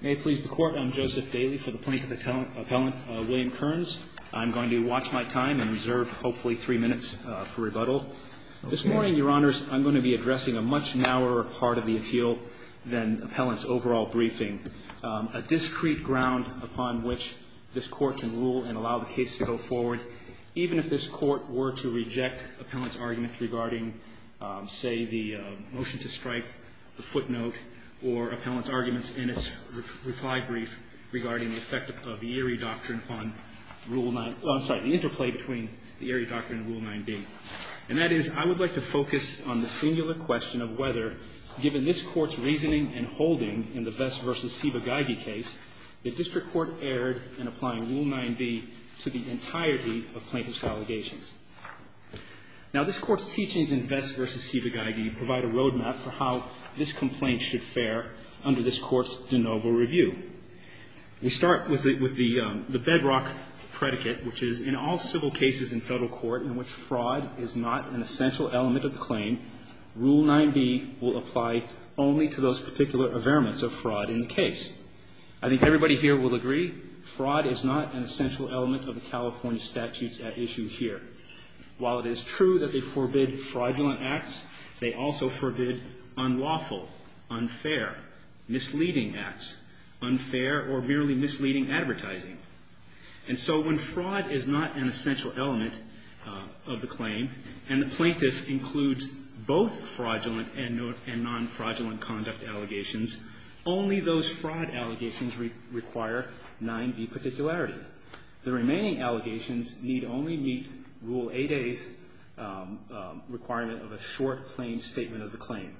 May it please the Court, I'm Joseph Daley for the Plaintiff Appellant, William Kearns. I'm going to watch my time and reserve hopefully three minutes for rebuttal. This morning, Your Honors, I'm going to be addressing a much narrower part of the appeal than Appellant's overall briefing, a discreet ground upon which this Court can rule and allow the case to go forward, even if this Court were to reject Appellant's argument regarding, say, the motion to strike, the footnote, or Appellant's arguments in its reply brief regarding the effect of the Erie Doctrine on Rule 9, oh, I'm sorry, the interplay between the Erie Doctrine and Rule 9b. And that is, I would like to focus on the singular question of whether, given this Court's reasoning and holding in the Vest v. Sibagaygi case, the District Court erred in applying Rule 9b to the entirety of Plaintiff's allegations. Now, this Court's teachings in Vest v. Sibagaygi provide a roadmap for how this complaint should fare under this Court's de novo review. We start with the bedrock predicate, which is, in all civil cases in Federal court in which fraud is not an essential element of the claim, Rule 9b will apply only to those particular averaments of fraud in the case. I think everybody here will agree fraud is not an essential element of the California statutes at issue here. While it is true that they forbid fraudulent acts, they also forbid unlawful, unfair, misleading acts, unfair or merely misleading advertising. And so when fraud is not an essential element of the claim, and the plaintiff includes both fraudulent and non-fraudulent conduct allegations, only those fraud allegations require 9b particularity. The remaining allegations need only meet Rule 8a's requirement of a short, plain statement of the claim.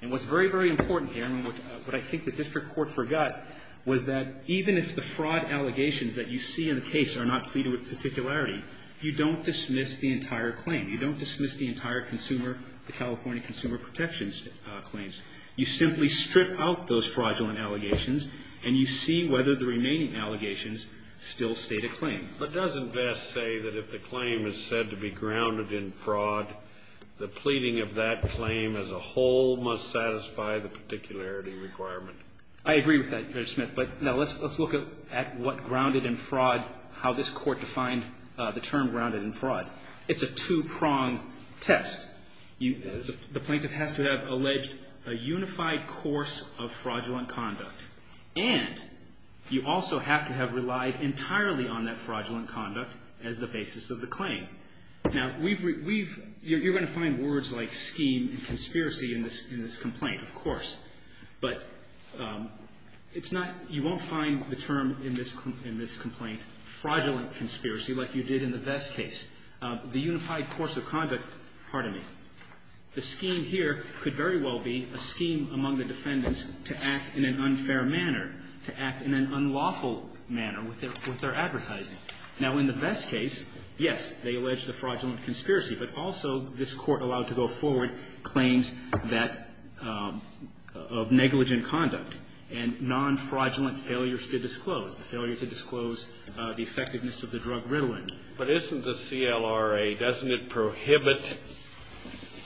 And what's very, very important here, and what I think the District Court forgot, was that even if the fraud allegations that you see in the case are not pleaded with particularity, you don't dismiss the entire claim. You don't dismiss the entire consumer, the California consumer protections claims. You simply strip out those fraudulent allegations, and you see whether the remaining allegations still state a claim. But doesn't Vest say that if the claim is said to be grounded in fraud, the pleading of that claim as a whole must satisfy the particularity requirement? I agree with that, Judge Smith. But now let's look at what grounded in fraud, how this Court defined the term grounded in fraud. It's a two-prong test. The plaintiff has to have alleged a unified course of fraudulent conduct, and you also have to have relied entirely on that fraudulent conduct as the basis of the claim. Now, we've, we've, you're going to find words like scheme and conspiracy in this complaint, of course. But it's not, you won't find the term in this complaint fraudulent conspiracy like you did in the Vest case. The unified course of conduct, pardon me, the scheme here could very well be a scheme among the defendants to act in an unfair manner, to act in an unlawful manner with their, with their advertising. Now, in the Vest case, yes, they allege the fraudulent conspiracy, but also this Court allowed to go forward claims that, of negligent conduct and non-fraudulent failures to disclose, the failure to disclose the effectiveness of the drug Ritalin. But isn't the CLRA, doesn't it prohibit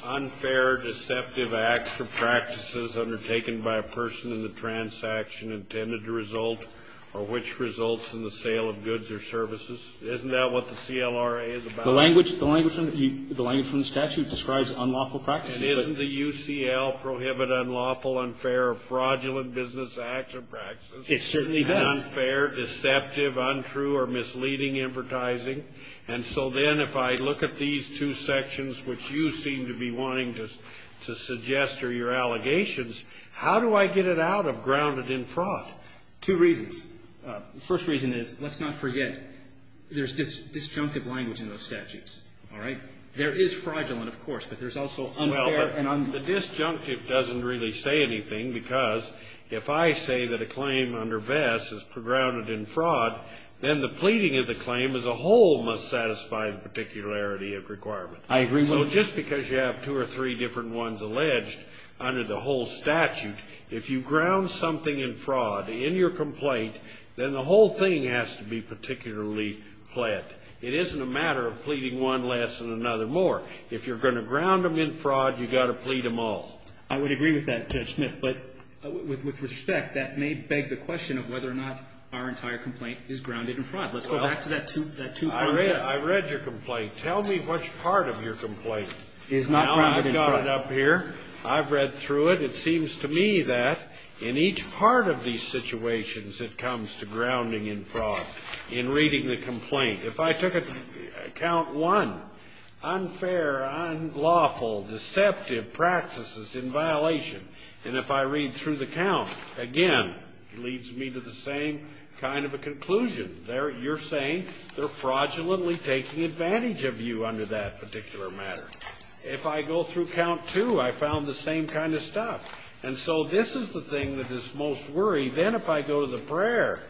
unfair, deceptive acts or practices undertaken by a person in the transaction intended to result, or which results in the sale of goods or services? Isn't that what the CLRA is about? The language, the language from the statute describes unlawful practices. And isn't the UCL prohibit unlawful, unfair, fraudulent business acts or practices? It certainly does. Unfair, deceptive, untrue, or misleading advertising. And so then if I look at these two sections, which you seem to be wanting to, to suggest or your allegations, how do I get it out of grounded in fraud? Two reasons. The first reason is, let's not forget, there's disjunctive language in those statutes. All right? There is fraudulent, of course, but there's also unfair and unfair. Well, but the disjunctive doesn't really say anything, because if I say that a claim under Vest is grounded in fraud, then the pleading of the claim as a whole must satisfy the particularity of requirement. I agree with you. So just because you have two or three different ones alleged under the whole statute, if you ground something in fraud in your complaint, then the whole thing has to be particularly pled. It isn't a matter of pleading one less than another more. If you're going to ground them in fraud, you've got to plead them all. I would agree with that, Judge Smith, but with respect, that may beg the question of whether or not our entire complaint is grounded in fraud. Let's go back to that two areas. I read your complaint. Tell me which part of your complaint is not grounded in fraud. Now I've got it up here. I've read through it. It seems to me that in each part of these situations, it comes to grounding in fraud, in reading the complaint. If I took a count one, unfair, unlawful, deceptive practices in violation, and if I read through the count again, it leads me to the same kind of a conclusion. You're saying they're fraudulently taking advantage of you under that particular matter. If I go through count two, I found the same kind of stuff. And so this is the thing that is most worried. Then if I go to the prayer,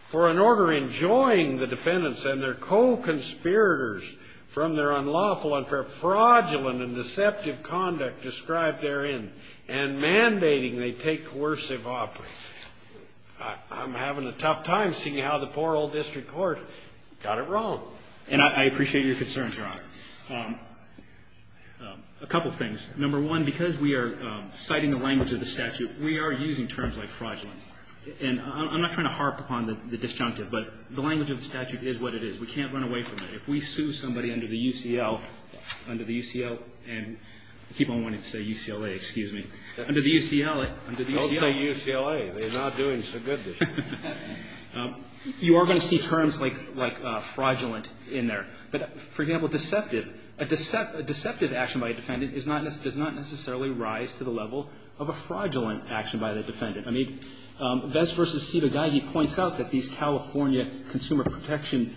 for an order enjoying the defendants and their co-conspirators from their unlawful, unfair, fraudulent, and deceptive conduct described therein, and mandating they take coercive operation, I'm having a tough time seeing how the poor district court got it wrong. And I appreciate your concerns, Your Honor. A couple things. Number one, because we are citing the language of the statute, we are using terms like fraudulent. And I'm not trying to harp upon the disjunctive, but the language of the statute is what it is. We can't run away from it. If we sue somebody under the UCL, under the UCL, and I keep on wanting to say UCLA, excuse me. Don't say UCLA. They're not doing so good this year. You are going to see terms like fraudulent in there. But, for example, deceptive. A deceptive action by a defendant does not necessarily rise to the level of a fraudulent action by the defendant. I mean, Bess v. Cedogaghi points out that these California consumer protection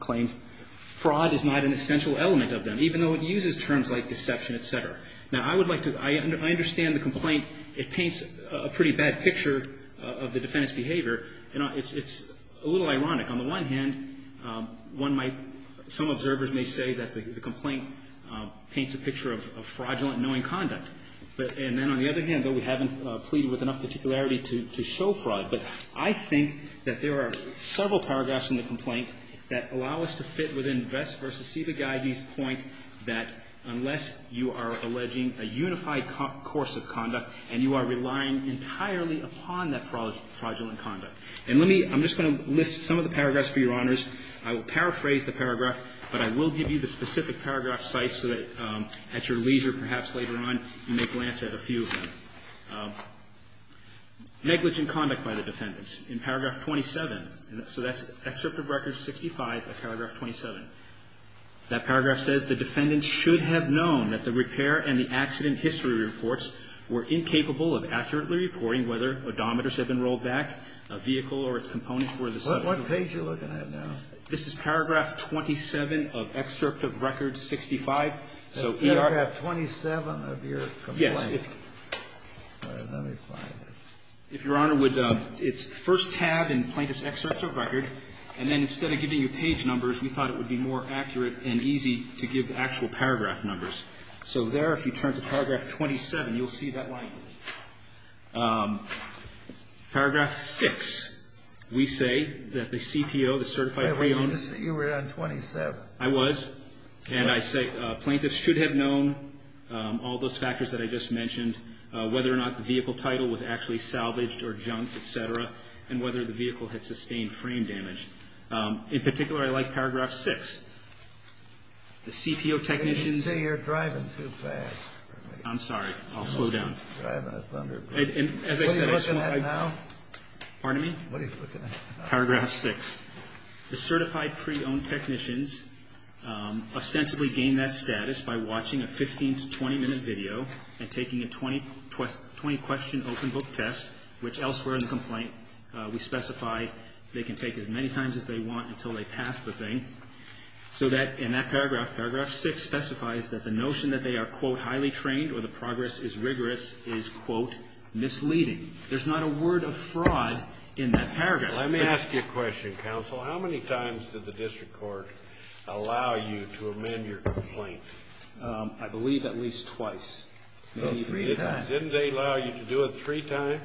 claims, fraud is not an essential element of them, even though it uses terms like deception, et cetera. Now, I would like to – I understand the complaint. It paints a pretty bad picture of the defendant's behavior, and it's a little ironic. On the one hand, one might – some observers may say that the complaint paints a picture of fraudulent knowing conduct. And then on the other hand, though, we haven't pleaded with enough particularity to show fraud. But I think that there are several paragraphs in the complaint that allow us to fit within Bess v. Cedogaghi's point that unless you are alleging a unified course of conduct and you are relying entirely upon that fraudulent conduct. And let me – I'm just going to list some of the paragraphs for Your Honors. I will paraphrase the paragraph, but I will give you the specific paragraph cites so that at your leisure, perhaps later on, you may glance at a few of them. Negligent conduct by the defendants. In paragraph 27 – so that's Excerpt of Record 65 of paragraph 27. That paragraph says, The defendant should have known that the repair and the accident history reports were incapable of accurately reporting whether odometers had been rolled back, a vehicle or its components were the subject. What page are you looking at now? This is paragraph 27 of Excerpt of Record 65. So in paragraph 27 of your complaint. Yes. Let me find it. If Your Honor would – it's first tabbed in Plaintiff's Excerpt of Record. And then instead of giving you page numbers, we thought it would be more accurate and easy to give actual paragraph numbers. So there, if you turn to paragraph 27, you'll see that line. Paragraph 6. We say that the CPO, the certified pre-owner. You were on 27. I was. And I say plaintiffs should have known all those factors that I just mentioned, whether or not the vehicle title was actually salvaged or junk, et cetera, and whether the vehicle had sustained frame damage. In particular, I like paragraph 6. The CPO technicians. You're driving too fast for me. I'm sorry. I'll slow down. Driving a Thunderbird. What are you looking at now? Pardon me? What are you looking at now? Paragraph 6. The certified pre-owned technicians ostensibly gained that status by watching a 15- to 20-minute video and taking a 20-question open book test, which elsewhere in the complaint, we specify they can take as many times as they want until they pass the thing, so that in that paragraph, paragraph 6 specifies that the notion that they are, quote, highly trained or the progress is rigorous is, quote, misleading. There's not a word of fraud in that paragraph. Let me ask you a question, counsel. How many times did the district court allow you to amend your complaint? I believe at least twice. Three times. Didn't they allow you to do it three times?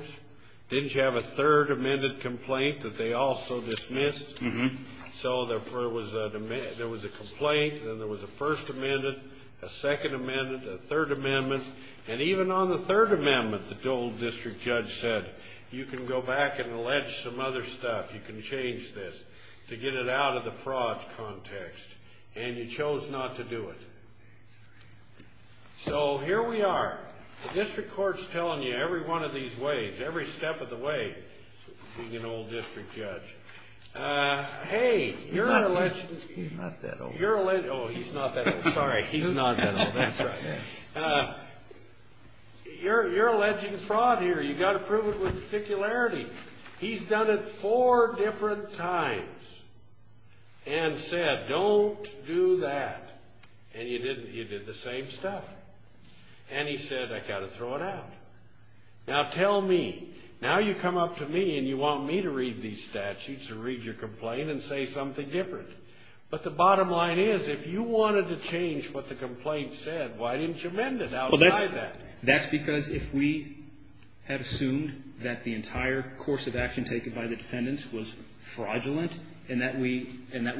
Didn't you have a third amended complaint that they also dismissed? Mm-hmm. So there was a complaint, then there was a first amended, a second amended, a third amendment. And even on the third amendment, the Dole District Judge said, you can go back and allege some other stuff. You can change this to get it out of the fraud context. And you chose not to do it. So here we are. The district court is telling you every one of these ways, every step of the way, being an old district judge, hey, you're alleging. He's not that old. Oh, he's not that old. Sorry, he's not that old. That's right. You're alleging fraud here. You've got to prove it with particularity. He's done it four different times and said, don't do that. And you did the same stuff. And he said, I've got to throw it out. Now tell me, now you come up to me and you want me to read these statutes or read your complaint and say something different. But the bottom line is, if you wanted to change what the complaint said, why didn't you amend it outside that? Well, that's because if we had assumed that the entire course of action taken by the defendants was fraudulent and that we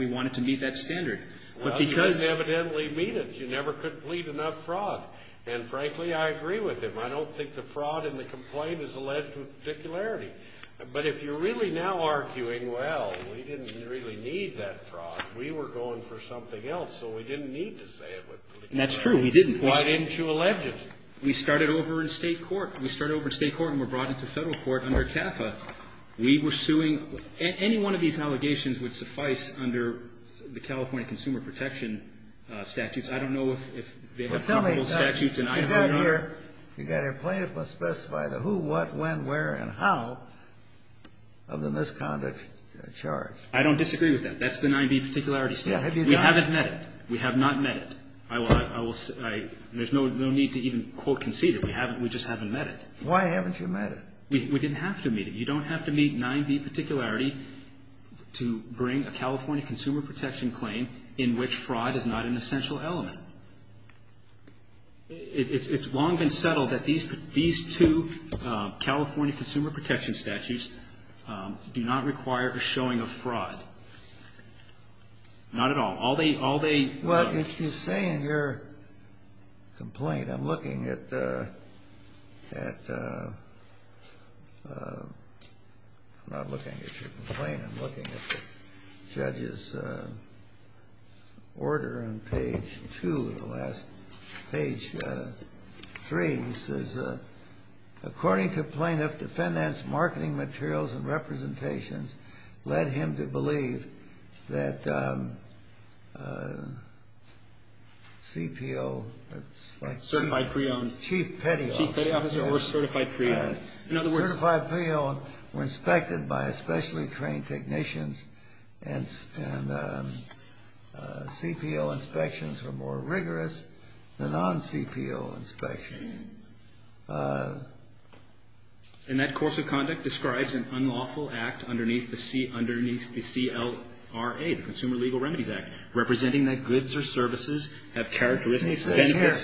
wanted to meet that standard. Well, you didn't evidently meet it. You never could plead enough fraud. And, frankly, I agree with him. I don't think the fraud in the complaint is alleged with particularity. But if you're really now arguing, well, we didn't really need that fraud. We were going for something else, so we didn't need to say it with particularity. That's true. We didn't. Why didn't you allege it? We started over in state court. We started over in state court and were brought into federal court under CAFA. We were suing any one of these allegations would suffice under the California Consumer Protection statutes. I don't know if they have applicable statutes and I don't know. Well, tell me, you got here, you got here plaintiff must specify the who, what, when, where, and how of the misconduct charge. I don't disagree with that. That's the 9b particularity statute. We haven't met it. We have not met it. I will say, there's no need to even, quote, concede it. We haven't, we just haven't met it. Why haven't you met it? We didn't have to meet it. You don't have to meet 9b particularity to bring a California Consumer Protection claim in which fraud is not an essential element. It's long been settled that these two California Consumer Protection statutes do not require a showing of fraud. Not at all. All they, all they. Well, if you say in your complaint, I'm looking at, at, I'm not looking at your order on page 2, the last, page 3. It says, according to plaintiff, defendant's marketing materials and representations led him to believe that CPO. Certified pre-owned. Chief Petty Officer. Chief Petty Officer or certified pre-owned. In other words. Certified pre-owned were inspected by specially trained technicians and CPO inspections were more rigorous than non-CPO inspections. And that course of conduct describes an unlawful act underneath the CLRA, the Consumer Legal Remedies Act, representing that goods or services have characteristics that interfere.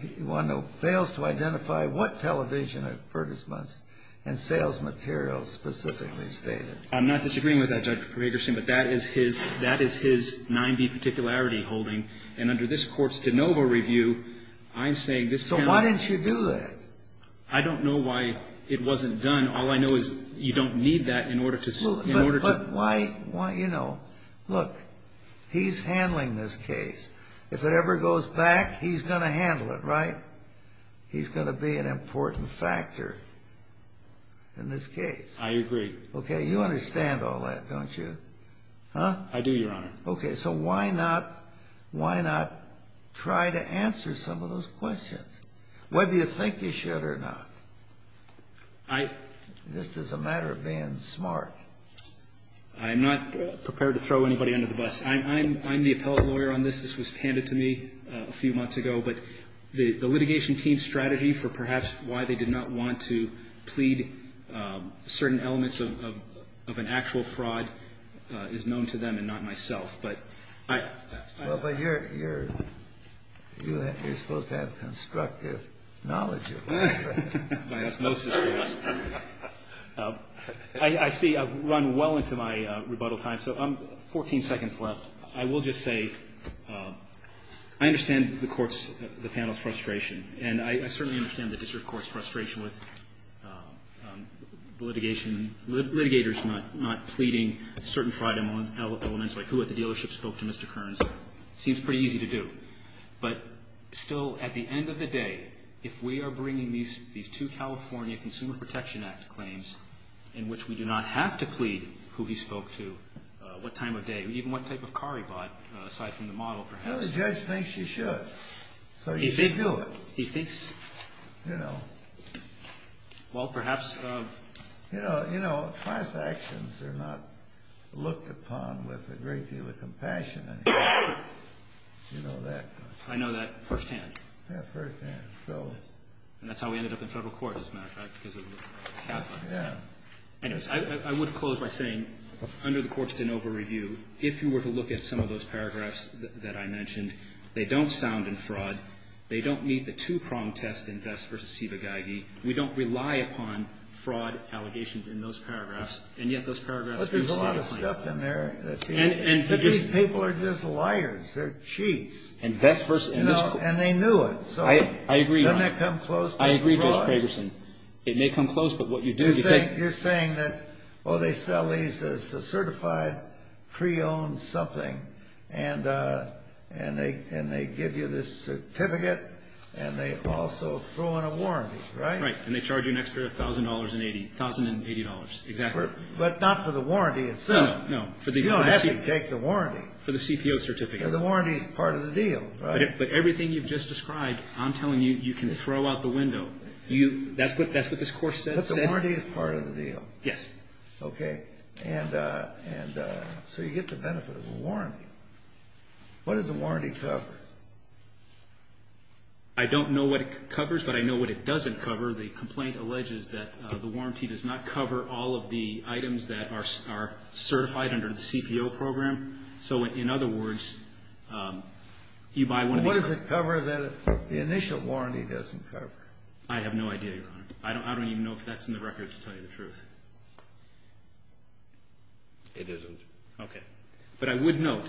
He fails to identify what television advertisements and sales materials specifically stated. I'm not disagreeing with that, Judge Petersen, but that is his 9B particularity holding. And under this court's de novo review, I'm saying this panel. So why didn't you do that? I don't know why it wasn't done. All I know is you don't need that in order to. But why, you know, look, he's handling this case. If it ever goes back, he's going to handle it, right? He's going to be an important factor in this case. I agree. Okay. You understand all that, don't you? I do, Your Honor. Okay. So why not try to answer some of those questions? Whether you think you should or not. Just as a matter of being smart. I'm not prepared to throw anybody under the bus. I'm the appellate lawyer on this. This was handed to me a few months ago. But the litigation team's strategy for perhaps why they did not want to plead certain elements of an actual fraud is known to them and not myself. But I don't know. Well, but you're supposed to have constructive knowledge of it. I see. I've run well into my rebuttal time. So I'm 14 seconds left. Well, I will just say I understand the panel's frustration. And I certainly understand the district court's frustration with the litigation and litigators not pleading certain fraud elements like who at the dealership spoke to Mr. Kearns. It seems pretty easy to do. But still, at the end of the day, if we are bringing these two California Consumer Protection Act claims in which we do not have to plead who he spoke to, what time does that make this case? Well, the judge thinks you should. So you should do it. Well, perhaps. Class actions are not looked upon with a great deal of compassion. I know that firsthand. And that's how we ended up in federal court, as a matter of fact, because of the capital. Yeah. I would close by saying, under the court's de novo review, if you were to look at some of those paragraphs that I mentioned, they don't sound in fraud. They don't meet the two-pronged test in Vest v. Ciba-Geigy. We don't rely upon fraud allegations in those paragraphs, and yet those paragraphs do stand out. But there's a lot of stuff in there that these people are just liars. They're cheats. And they knew it. I agree. Doesn't that come close to fraud? I agree, Judge Fragerson. It may come close, but what you do is you take them. You're saying that, oh, they sell these as a certified pre-owned something, and they give you this certificate, and they also throw in a warranty, right? Right, and they charge you an extra $1,000 and $80, exactly. But not for the warranty itself. No, no. You don't have to take the warranty. For the CPO certificate. The warranty is part of the deal, right? But everything you've just described, I'm telling you, you can throw out the window. That's what this Court said. But the warranty is part of the deal. Yes. Okay. And so you get the benefit of a warranty. What does a warranty cover? I don't know what it covers, but I know what it doesn't cover. The complaint alleges that the warranty does not cover all of the items that are certified under the CPO program. So in other words, you buy one of these. What does it cover that the initial warranty doesn't cover? I have no idea, Your Honor. I don't even know if that's in the record to tell you the truth. It isn't. Okay. But I would note,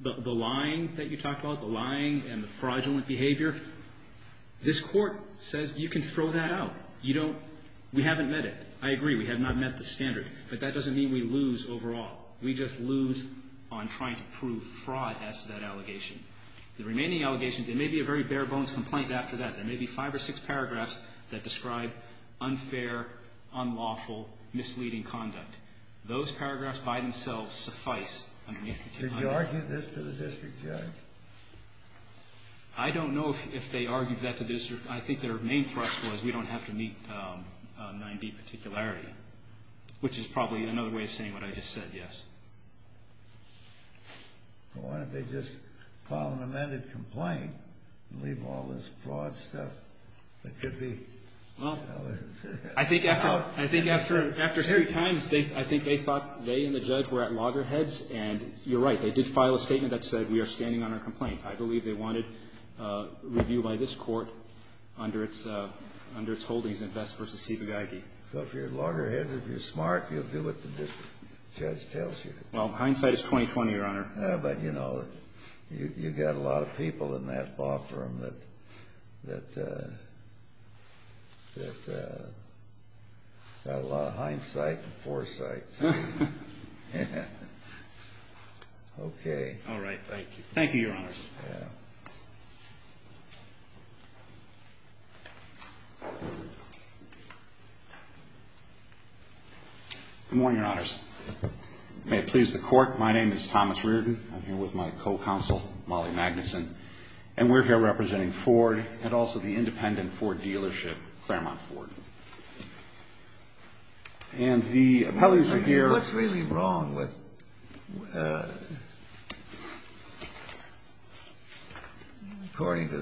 the lying that you talked about, the lying and the fraudulent behavior, this Court says you can throw that out. You don't we haven't met it. I agree, we have not met the standard. But that doesn't mean we lose overall. We just lose on trying to prove fraud as to that allegation. The remaining allegations, it may be a very bare-bones complaint after that. There may be five or six paragraphs that describe unfair, unlawful, misleading conduct. Those paragraphs by themselves suffice. Did you argue this to the district judge? I don't know if they argued that to the district judge. I think their main thrust was we don't have to meet 9b particularity, which is probably another way of saying what I just said, yes. Why don't they just file an amended complaint and leave all this fraud stuff that could be. Well, I think after three times, I think they thought they and the judge were at loggerheads. And you're right, they did file a statement that said we are standing on our complaint. I believe they wanted review by this Court under its holdings in Vest v. Sibagaygi. So if you're loggerheads, if you're smart, you'll do what the district judge tells you. Well, hindsight is 20-20, Your Honor. But, you know, you've got a lot of people in that law firm that got a lot of hindsight and foresight. Okay. All right. Thank you. Thank you, Your Honors. Good morning, Your Honors. May it please the Court, my name is Thomas Reardon. I'm here with my co-counsel, Molly Magnuson. And we're here representing Ford and also the independent Ford dealership, Claremont Ford. And the appellees are here. What's really wrong with, according to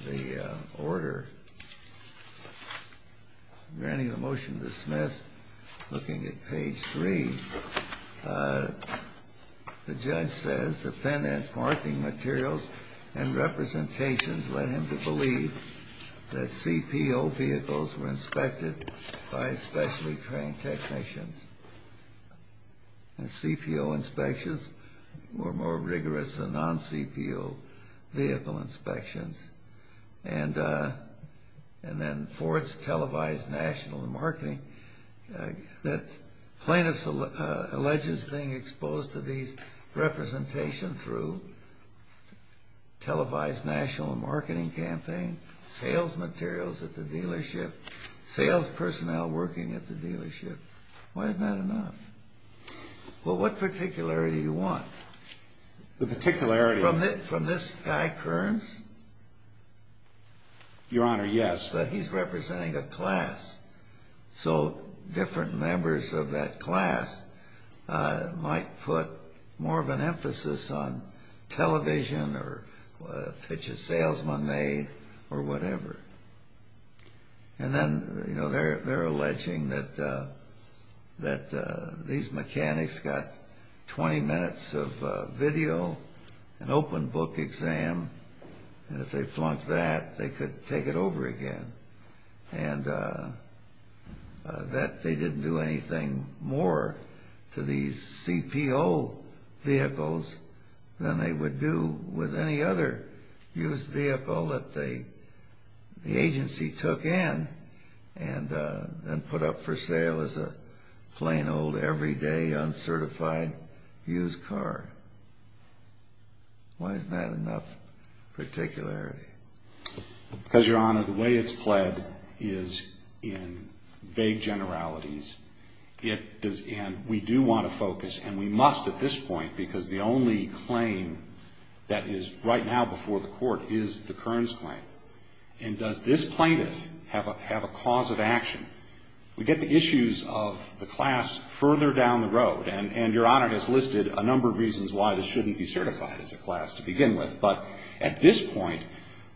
the order, granting the motion dismissed, looking at page 3, the judge says defendants' marking materials and representations led him to believe that inspections were more rigorous than non-CPO vehicle inspections. And then Ford's televised national marketing that plaintiffs allege is being exposed to these representations through televised national marketing campaign, sales materials at the dealership, sales personnel working at the dealership. Why isn't that enough? Well, what particularity do you want? The particularity. From this guy, Kearns? Your Honor, yes. That he's representing a class. So different members of that class might put more of an emphasis on television or pitches salesmen made or whatever. And then, you know, they're alleging that these mechanics got 20 minutes of video, an open book exam, and if they flunked that, they could take it over again. And that they didn't do anything more to these CPO vehicles than they would do with any other used vehicle that the agency took in and put up for sale as a plain old, everyday, uncertified used car. Why isn't that enough particularity? Because, Your Honor, the way it's pled is in vague generalities, and we do want to focus, and we must at this point, because the only claim that is right now before the Court is the Kearns claim. And does this plaintiff have a cause of action? We get to issues of the class further down the road. And Your Honor has listed a number of reasons why this shouldn't be certified as a class to begin with. But at this point,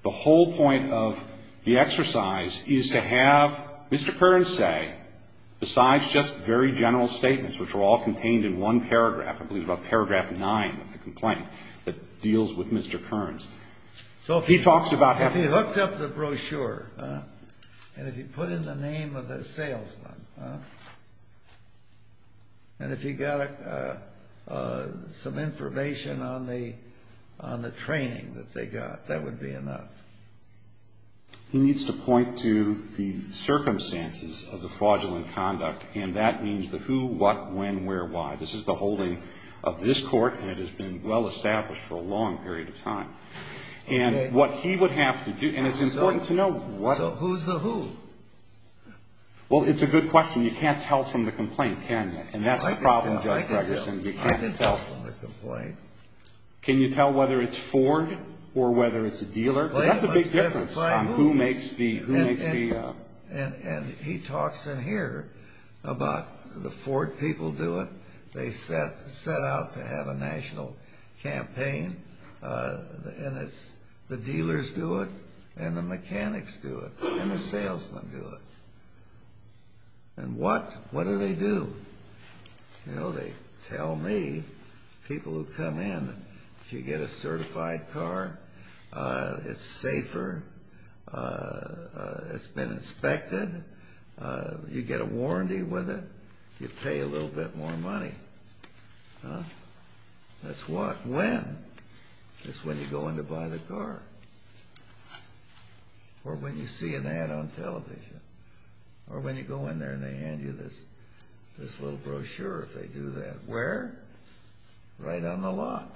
the whole point of the exercise is to have Mr. Kearns say, besides just very general statements, which are all contained in one paragraph, I believe about paragraph 9 of the complaint, that deals with Mr. Kearns. So if he talks about having... If he hooked up the brochure, and if he put in the name of the salesman, and if he got some information on the training that they got, that would be enough. He needs to point to the circumstances of the fraudulent conduct, and that means the who, what, when, where, why. This is the holding of this Court, and it has been well-established for a long period of time. And what he would have to do... And it's important to know what... So who's the who? Well, it's a good question. You can't tell from the complaint, can you? And that's the problem, Judge Gregerson. I can tell. I can tell from the complaint. Can you tell whether it's Ford or whether it's a dealer? That's a big difference on who makes the... And he talks in here about the Ford people do it. They set out to have a national campaign, and the dealers do it, and the mechanics do it, and the salesmen do it. And what do they do? You know, they tell me, people who come in, if you get a certified car, it's safer, it's been inspected, you get a warranty with it, you pay a little bit more money. That's what, when? That's when you go in to buy the car. Or when you see an ad on television. Or when you go in there and they hand you this little brochure, if they do that. Where? Right on the lot.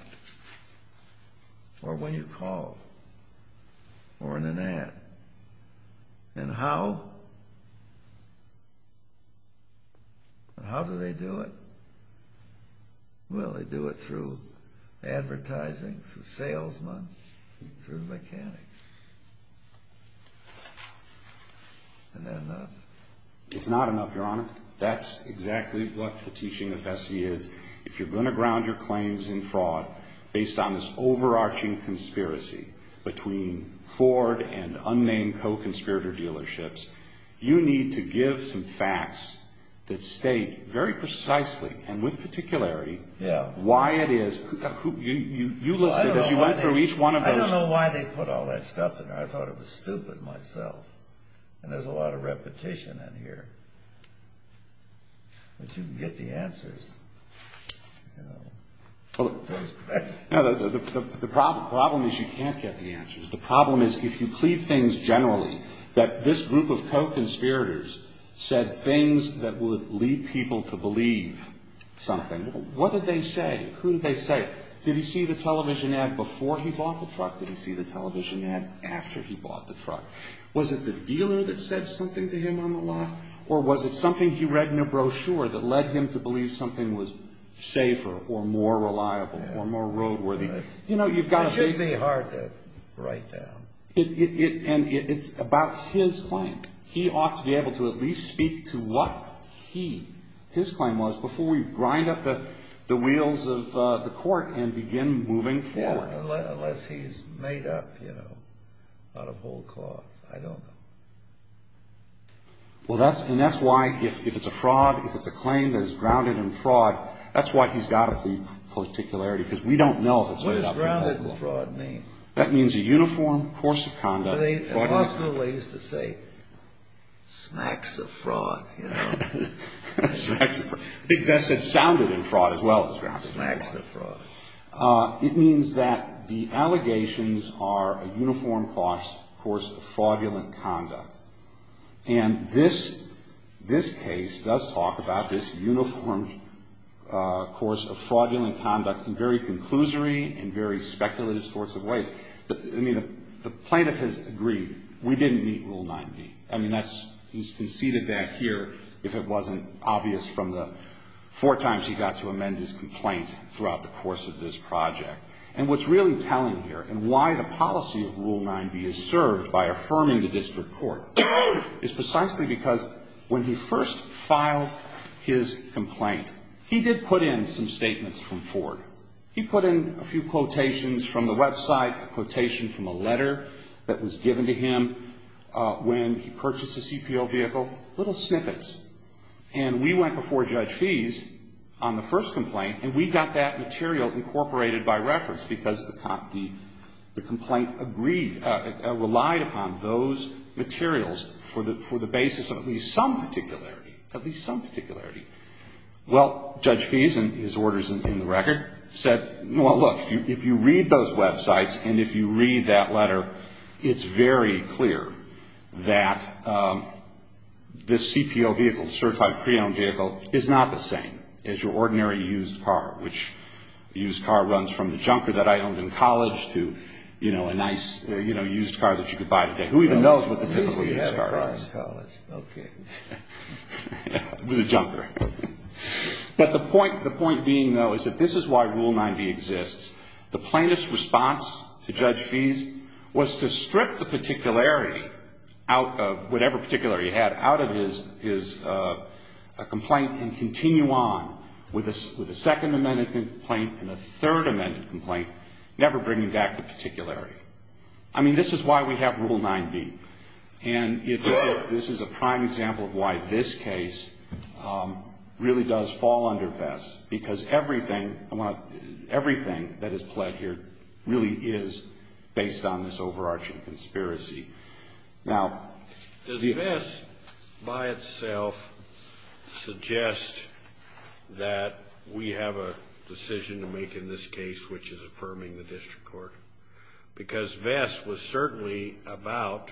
Or when you call. Or in an ad. And how? How do they do it? Well, they do it through advertising, through salesmen, through mechanics. And then... It's not enough, Your Honor. That's exactly what the teaching of Vesey is. If you're going to ground your claims in fraud based on this overarching conspiracy between Ford and unnamed co-conspirator dealerships, you need to give some facts that state very precisely, and with particularity, why it is. You listed as you went through each one of those. I don't know why they put all that stuff in there. I thought it was stupid myself. And there's a lot of repetition in here. But you can get the answers. The problem is you can't get the answers. The problem is if you plead things generally, that this group of co-conspirators said things that would lead people to believe something. What did they say? Who did they say? Did he see the television ad before he bought the truck? Did he see the television ad after he bought the truck? Was it the dealer that said something to him on the lot? Or was it something he read in a brochure that led him to believe something was safer or more reliable or more roadworthy? It should be hard to write down. And it's about his claim. He ought to be able to at least speak to what his claim was before we grind up the wheels of the court and begin moving forward. Unless he's made up, you know, out of old cloth. I don't know. And that's why if it's a fraud, if it's a claim that is grounded in fraud, that's why he's got the particularity, because we don't know if it's made up or not. What does grounded in fraud mean? That means a uniform course of conduct. In law school they used to say, smacks of fraud, you know. I think that sounded in fraud as well as grounded in fraud. Smacks of fraud. It means that the allegations are a uniform course of fraudulent conduct. And this case does talk about this uniform course of fraudulent conduct in very conclusory and very speculative sorts of ways. I mean, the plaintiff has agreed, we didn't meet Rule 9b. I mean, he's conceded that here if it wasn't obvious from the four times he got to amend his complaint throughout the course of this project. And what's really telling here and why the policy of Rule 9b is served by affirming the district court is precisely because when he first filed his complaint, he did put in some statements from Ford. He put in a few quotations from the website, a quotation from a letter that was given to him when he purchased a CPO vehicle, little snippets. And we went before Judge Fees on the first complaint and we got that material incorporated by reference because the complaint agreed, relied upon those materials for the basis of at least some particularity. At least some particularity. Well, Judge Fees and his orders in the record said, well, look, if you read those websites and if you read that letter, it's very clear that this CPO vehicle is a vehicle, a certified pre-owned vehicle, is not the same as your ordinary used car, which a used car runs from the junker that I owned in college to, you know, a nice, you know, used car that you could buy today. Who even knows what the typical used car is? With a junker. But the point being, though, is that this is why Rule 9b exists. The plaintiff's response to Judge Fees was to strip the particularity out of whatever particularity he had out of his complaint and continue on with a second amended complaint and a third amended complaint, never bringing back the particularity. I mean, this is why we have Rule 9b. And this is a prime example of why this case really does fall under VESS, because everything that is pled here really is based on this overarching conspiracy. Now, does VESS by itself suggest that we have a decision to make in this case, which is affirming the district court? Because VESS was certainly about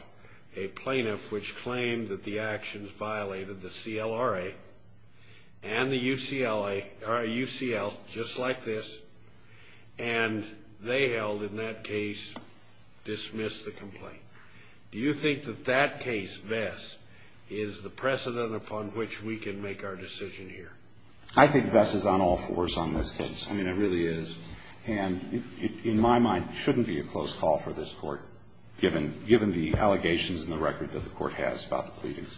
a plaintiff which claimed that the actions violated the CLRA and the UCLA, or UCL, just like this, and they held in that case, dismissed the complaint. Do you think that that case, VESS, is the precedent upon which we can make our decision here? I think VESS is on all fours on this case. It shouldn't be a close call for this Court, given the allegations in the record that the Court has about the pleadings.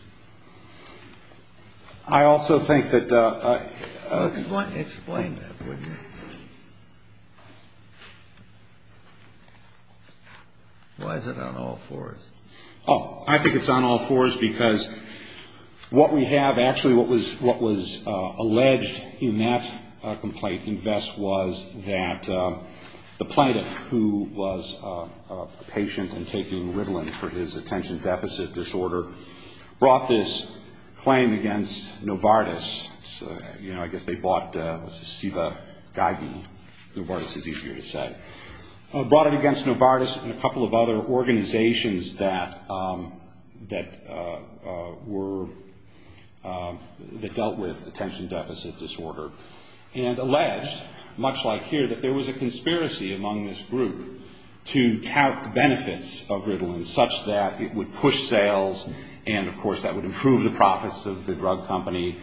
I also think that... Explain that, would you? Why is it on all fours? Oh, I think it's on all fours because what we have actually, what was alleged in that complaint in VESS was that the plaintiff, who was a patient and taking Ritalin for his attention deficit disorder, brought this claim against Novartis. You know, I guess they bought, it was a Siva Geigy, Novartis is easier to say. Brought it against Novartis and a couple of other organizations that were, that dealt with attention deficit disorder. And alleged, much like here, that there was a conspiracy among this group to tout benefits of Ritalin, such that it would push sales and, of course, that would improve the profits of the drug company,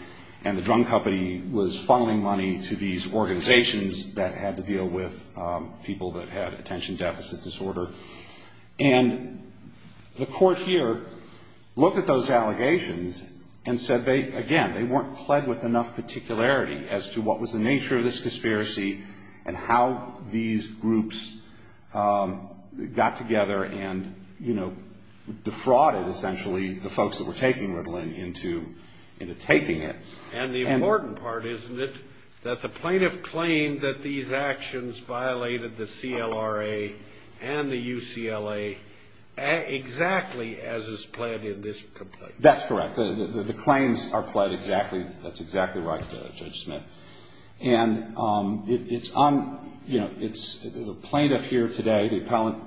and the drug company was funneling money to these organizations that had to deal with people that had attention deficit disorder. And the Court here looked at those allegations and said they, again, they weren't pled with enough particularity as to what was the nature of this conspiracy and how these groups got together and, you know, defrauded, essentially, the folks that were taking Ritalin into taking it. And the important part, isn't it, that the plaintiff claimed that these actions violated the Siva Geigy? The CLRA and the UCLA, exactly as is pled in this complaint. That's correct. The claims are pled exactly, that's exactly right, Judge Smith. And it's on, you know, it's the plaintiff here today, the appellant,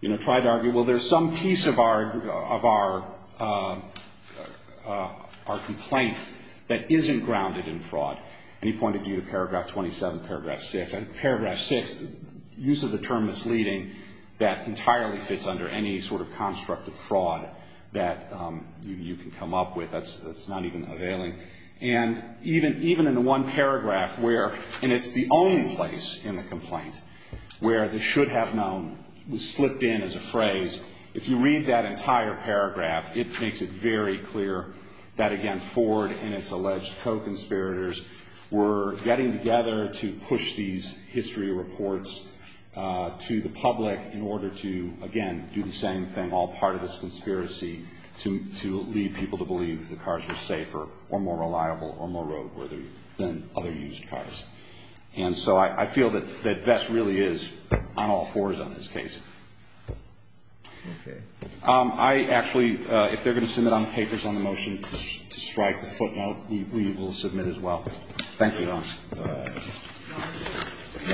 you know, tried to argue, well, there's some piece of our complaint that isn't grounded in fraud. And he pointed to Paragraph 27, Paragraph 6. And Paragraph 6, use of the term misleading, that entirely fits under any sort of construct of fraud that you can come up with. That's not even availing. And even in the one paragraph where, and it's the only place in the complaint where the should have known was slipped in as a phrase, if you read that entire paragraph, it says, well, we're getting together to push these history reports to the public in order to, again, do the same thing. All part of this conspiracy to lead people to believe the cars were safer or more reliable or more roadworthy than other used cars. And so I feel that that really is on all fours on this case. I actually, if they're going to submit on papers on the motion to strike the footnote, we will submit as well. Thank you, Your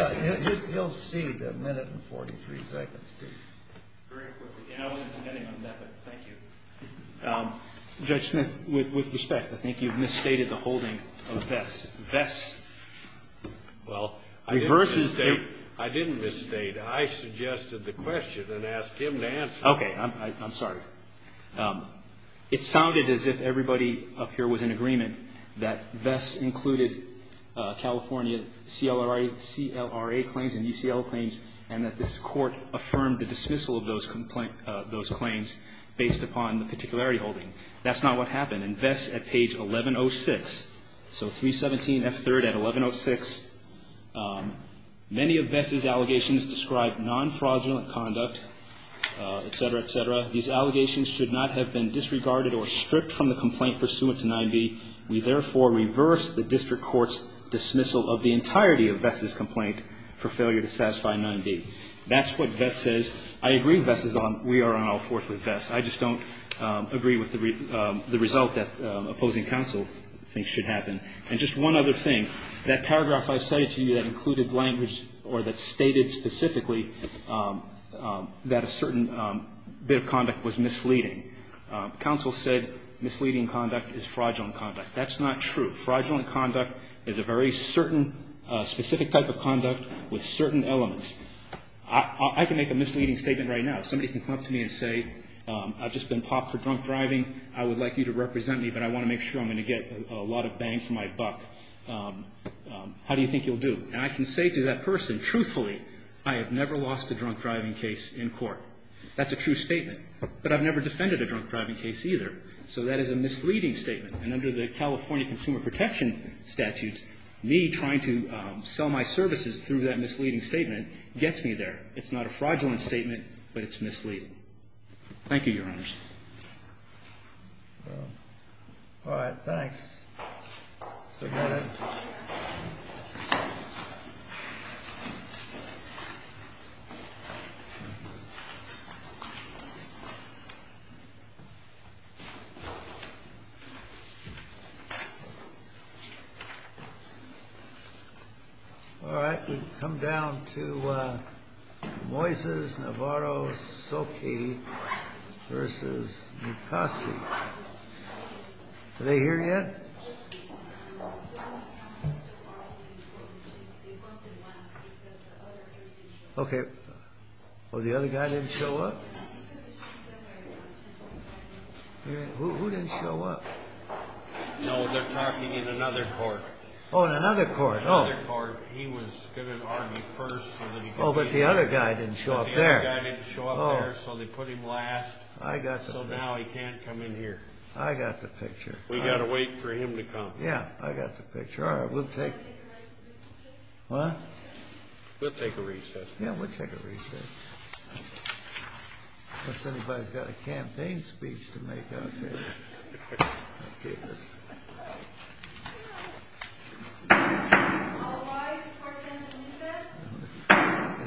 Honor. He'll see the minute and 43 seconds, too. Very quickly. And I wasn't depending on that, but thank you. Judge Smith, with respect, I think you've misstated the holding of Vess. Vess reverses the ---- Well, I didn't misstate. I suggested the question and asked him to answer it. I'm sorry. It sounded as if everybody up here was in agreement that Vess included California CLRA claims and ECL claims and that this Court affirmed the dismissal of those complaints ---- those claims based upon the particularity holding. That's not what happened. In Vess at page 1106, so 317F3 at 1106, many of Vess's allegations describe non-fraudulent conduct, et cetera, et cetera. These allegations should not have been disregarded or stripped from the complaint pursuant to 9b. We therefore reverse the district court's dismissal of the entirety of Vess's complaint for failure to satisfy 9b. That's what Vess says. I agree Vess is on. We are on all fours with Vess. I just don't agree with the result that opposing counsel thinks should happen. And just one other thing. That paragraph I cited to you that included language or that stated specifically that a certain bit of conduct was misleading. Counsel said misleading conduct is fraudulent conduct. That's not true. Fraudulent conduct is a very certain specific type of conduct with certain elements. I can make a misleading statement right now. Somebody can come up to me and say, I've just been popped for drunk driving. I would like you to represent me, but I want to make sure I'm going to get a lot of my buck. How do you think you'll do? And I can say to that person, truthfully, I have never lost a drunk driving case in court. That's a true statement. But I've never defended a drunk driving case either. So that is a misleading statement. And under the California Consumer Protection statutes, me trying to sell my services through that misleading statement gets me there. It's not a fraudulent statement, but it's misleading. Thank you, Your Honors. All right. Thanks. All right. We've come down to Moises, Navarro, Soki versus Mukasey. Are they here yet? Okay. Oh, the other guy didn't show up? Who didn't show up? No, they're talking in another court. Oh, in another court. He was going to argue first. Oh, but the other guy didn't show up there. The other guy didn't show up there, so they put him last. So now he can't come in here. I got the picture. We've got to wait for him to come. Yeah, I got the picture. All right. We'll take... Huh? We'll take a recess. Yeah, we'll take a recess. Unless anybody's got a campaign speech to make out there. Okay. All rise for Senate recess.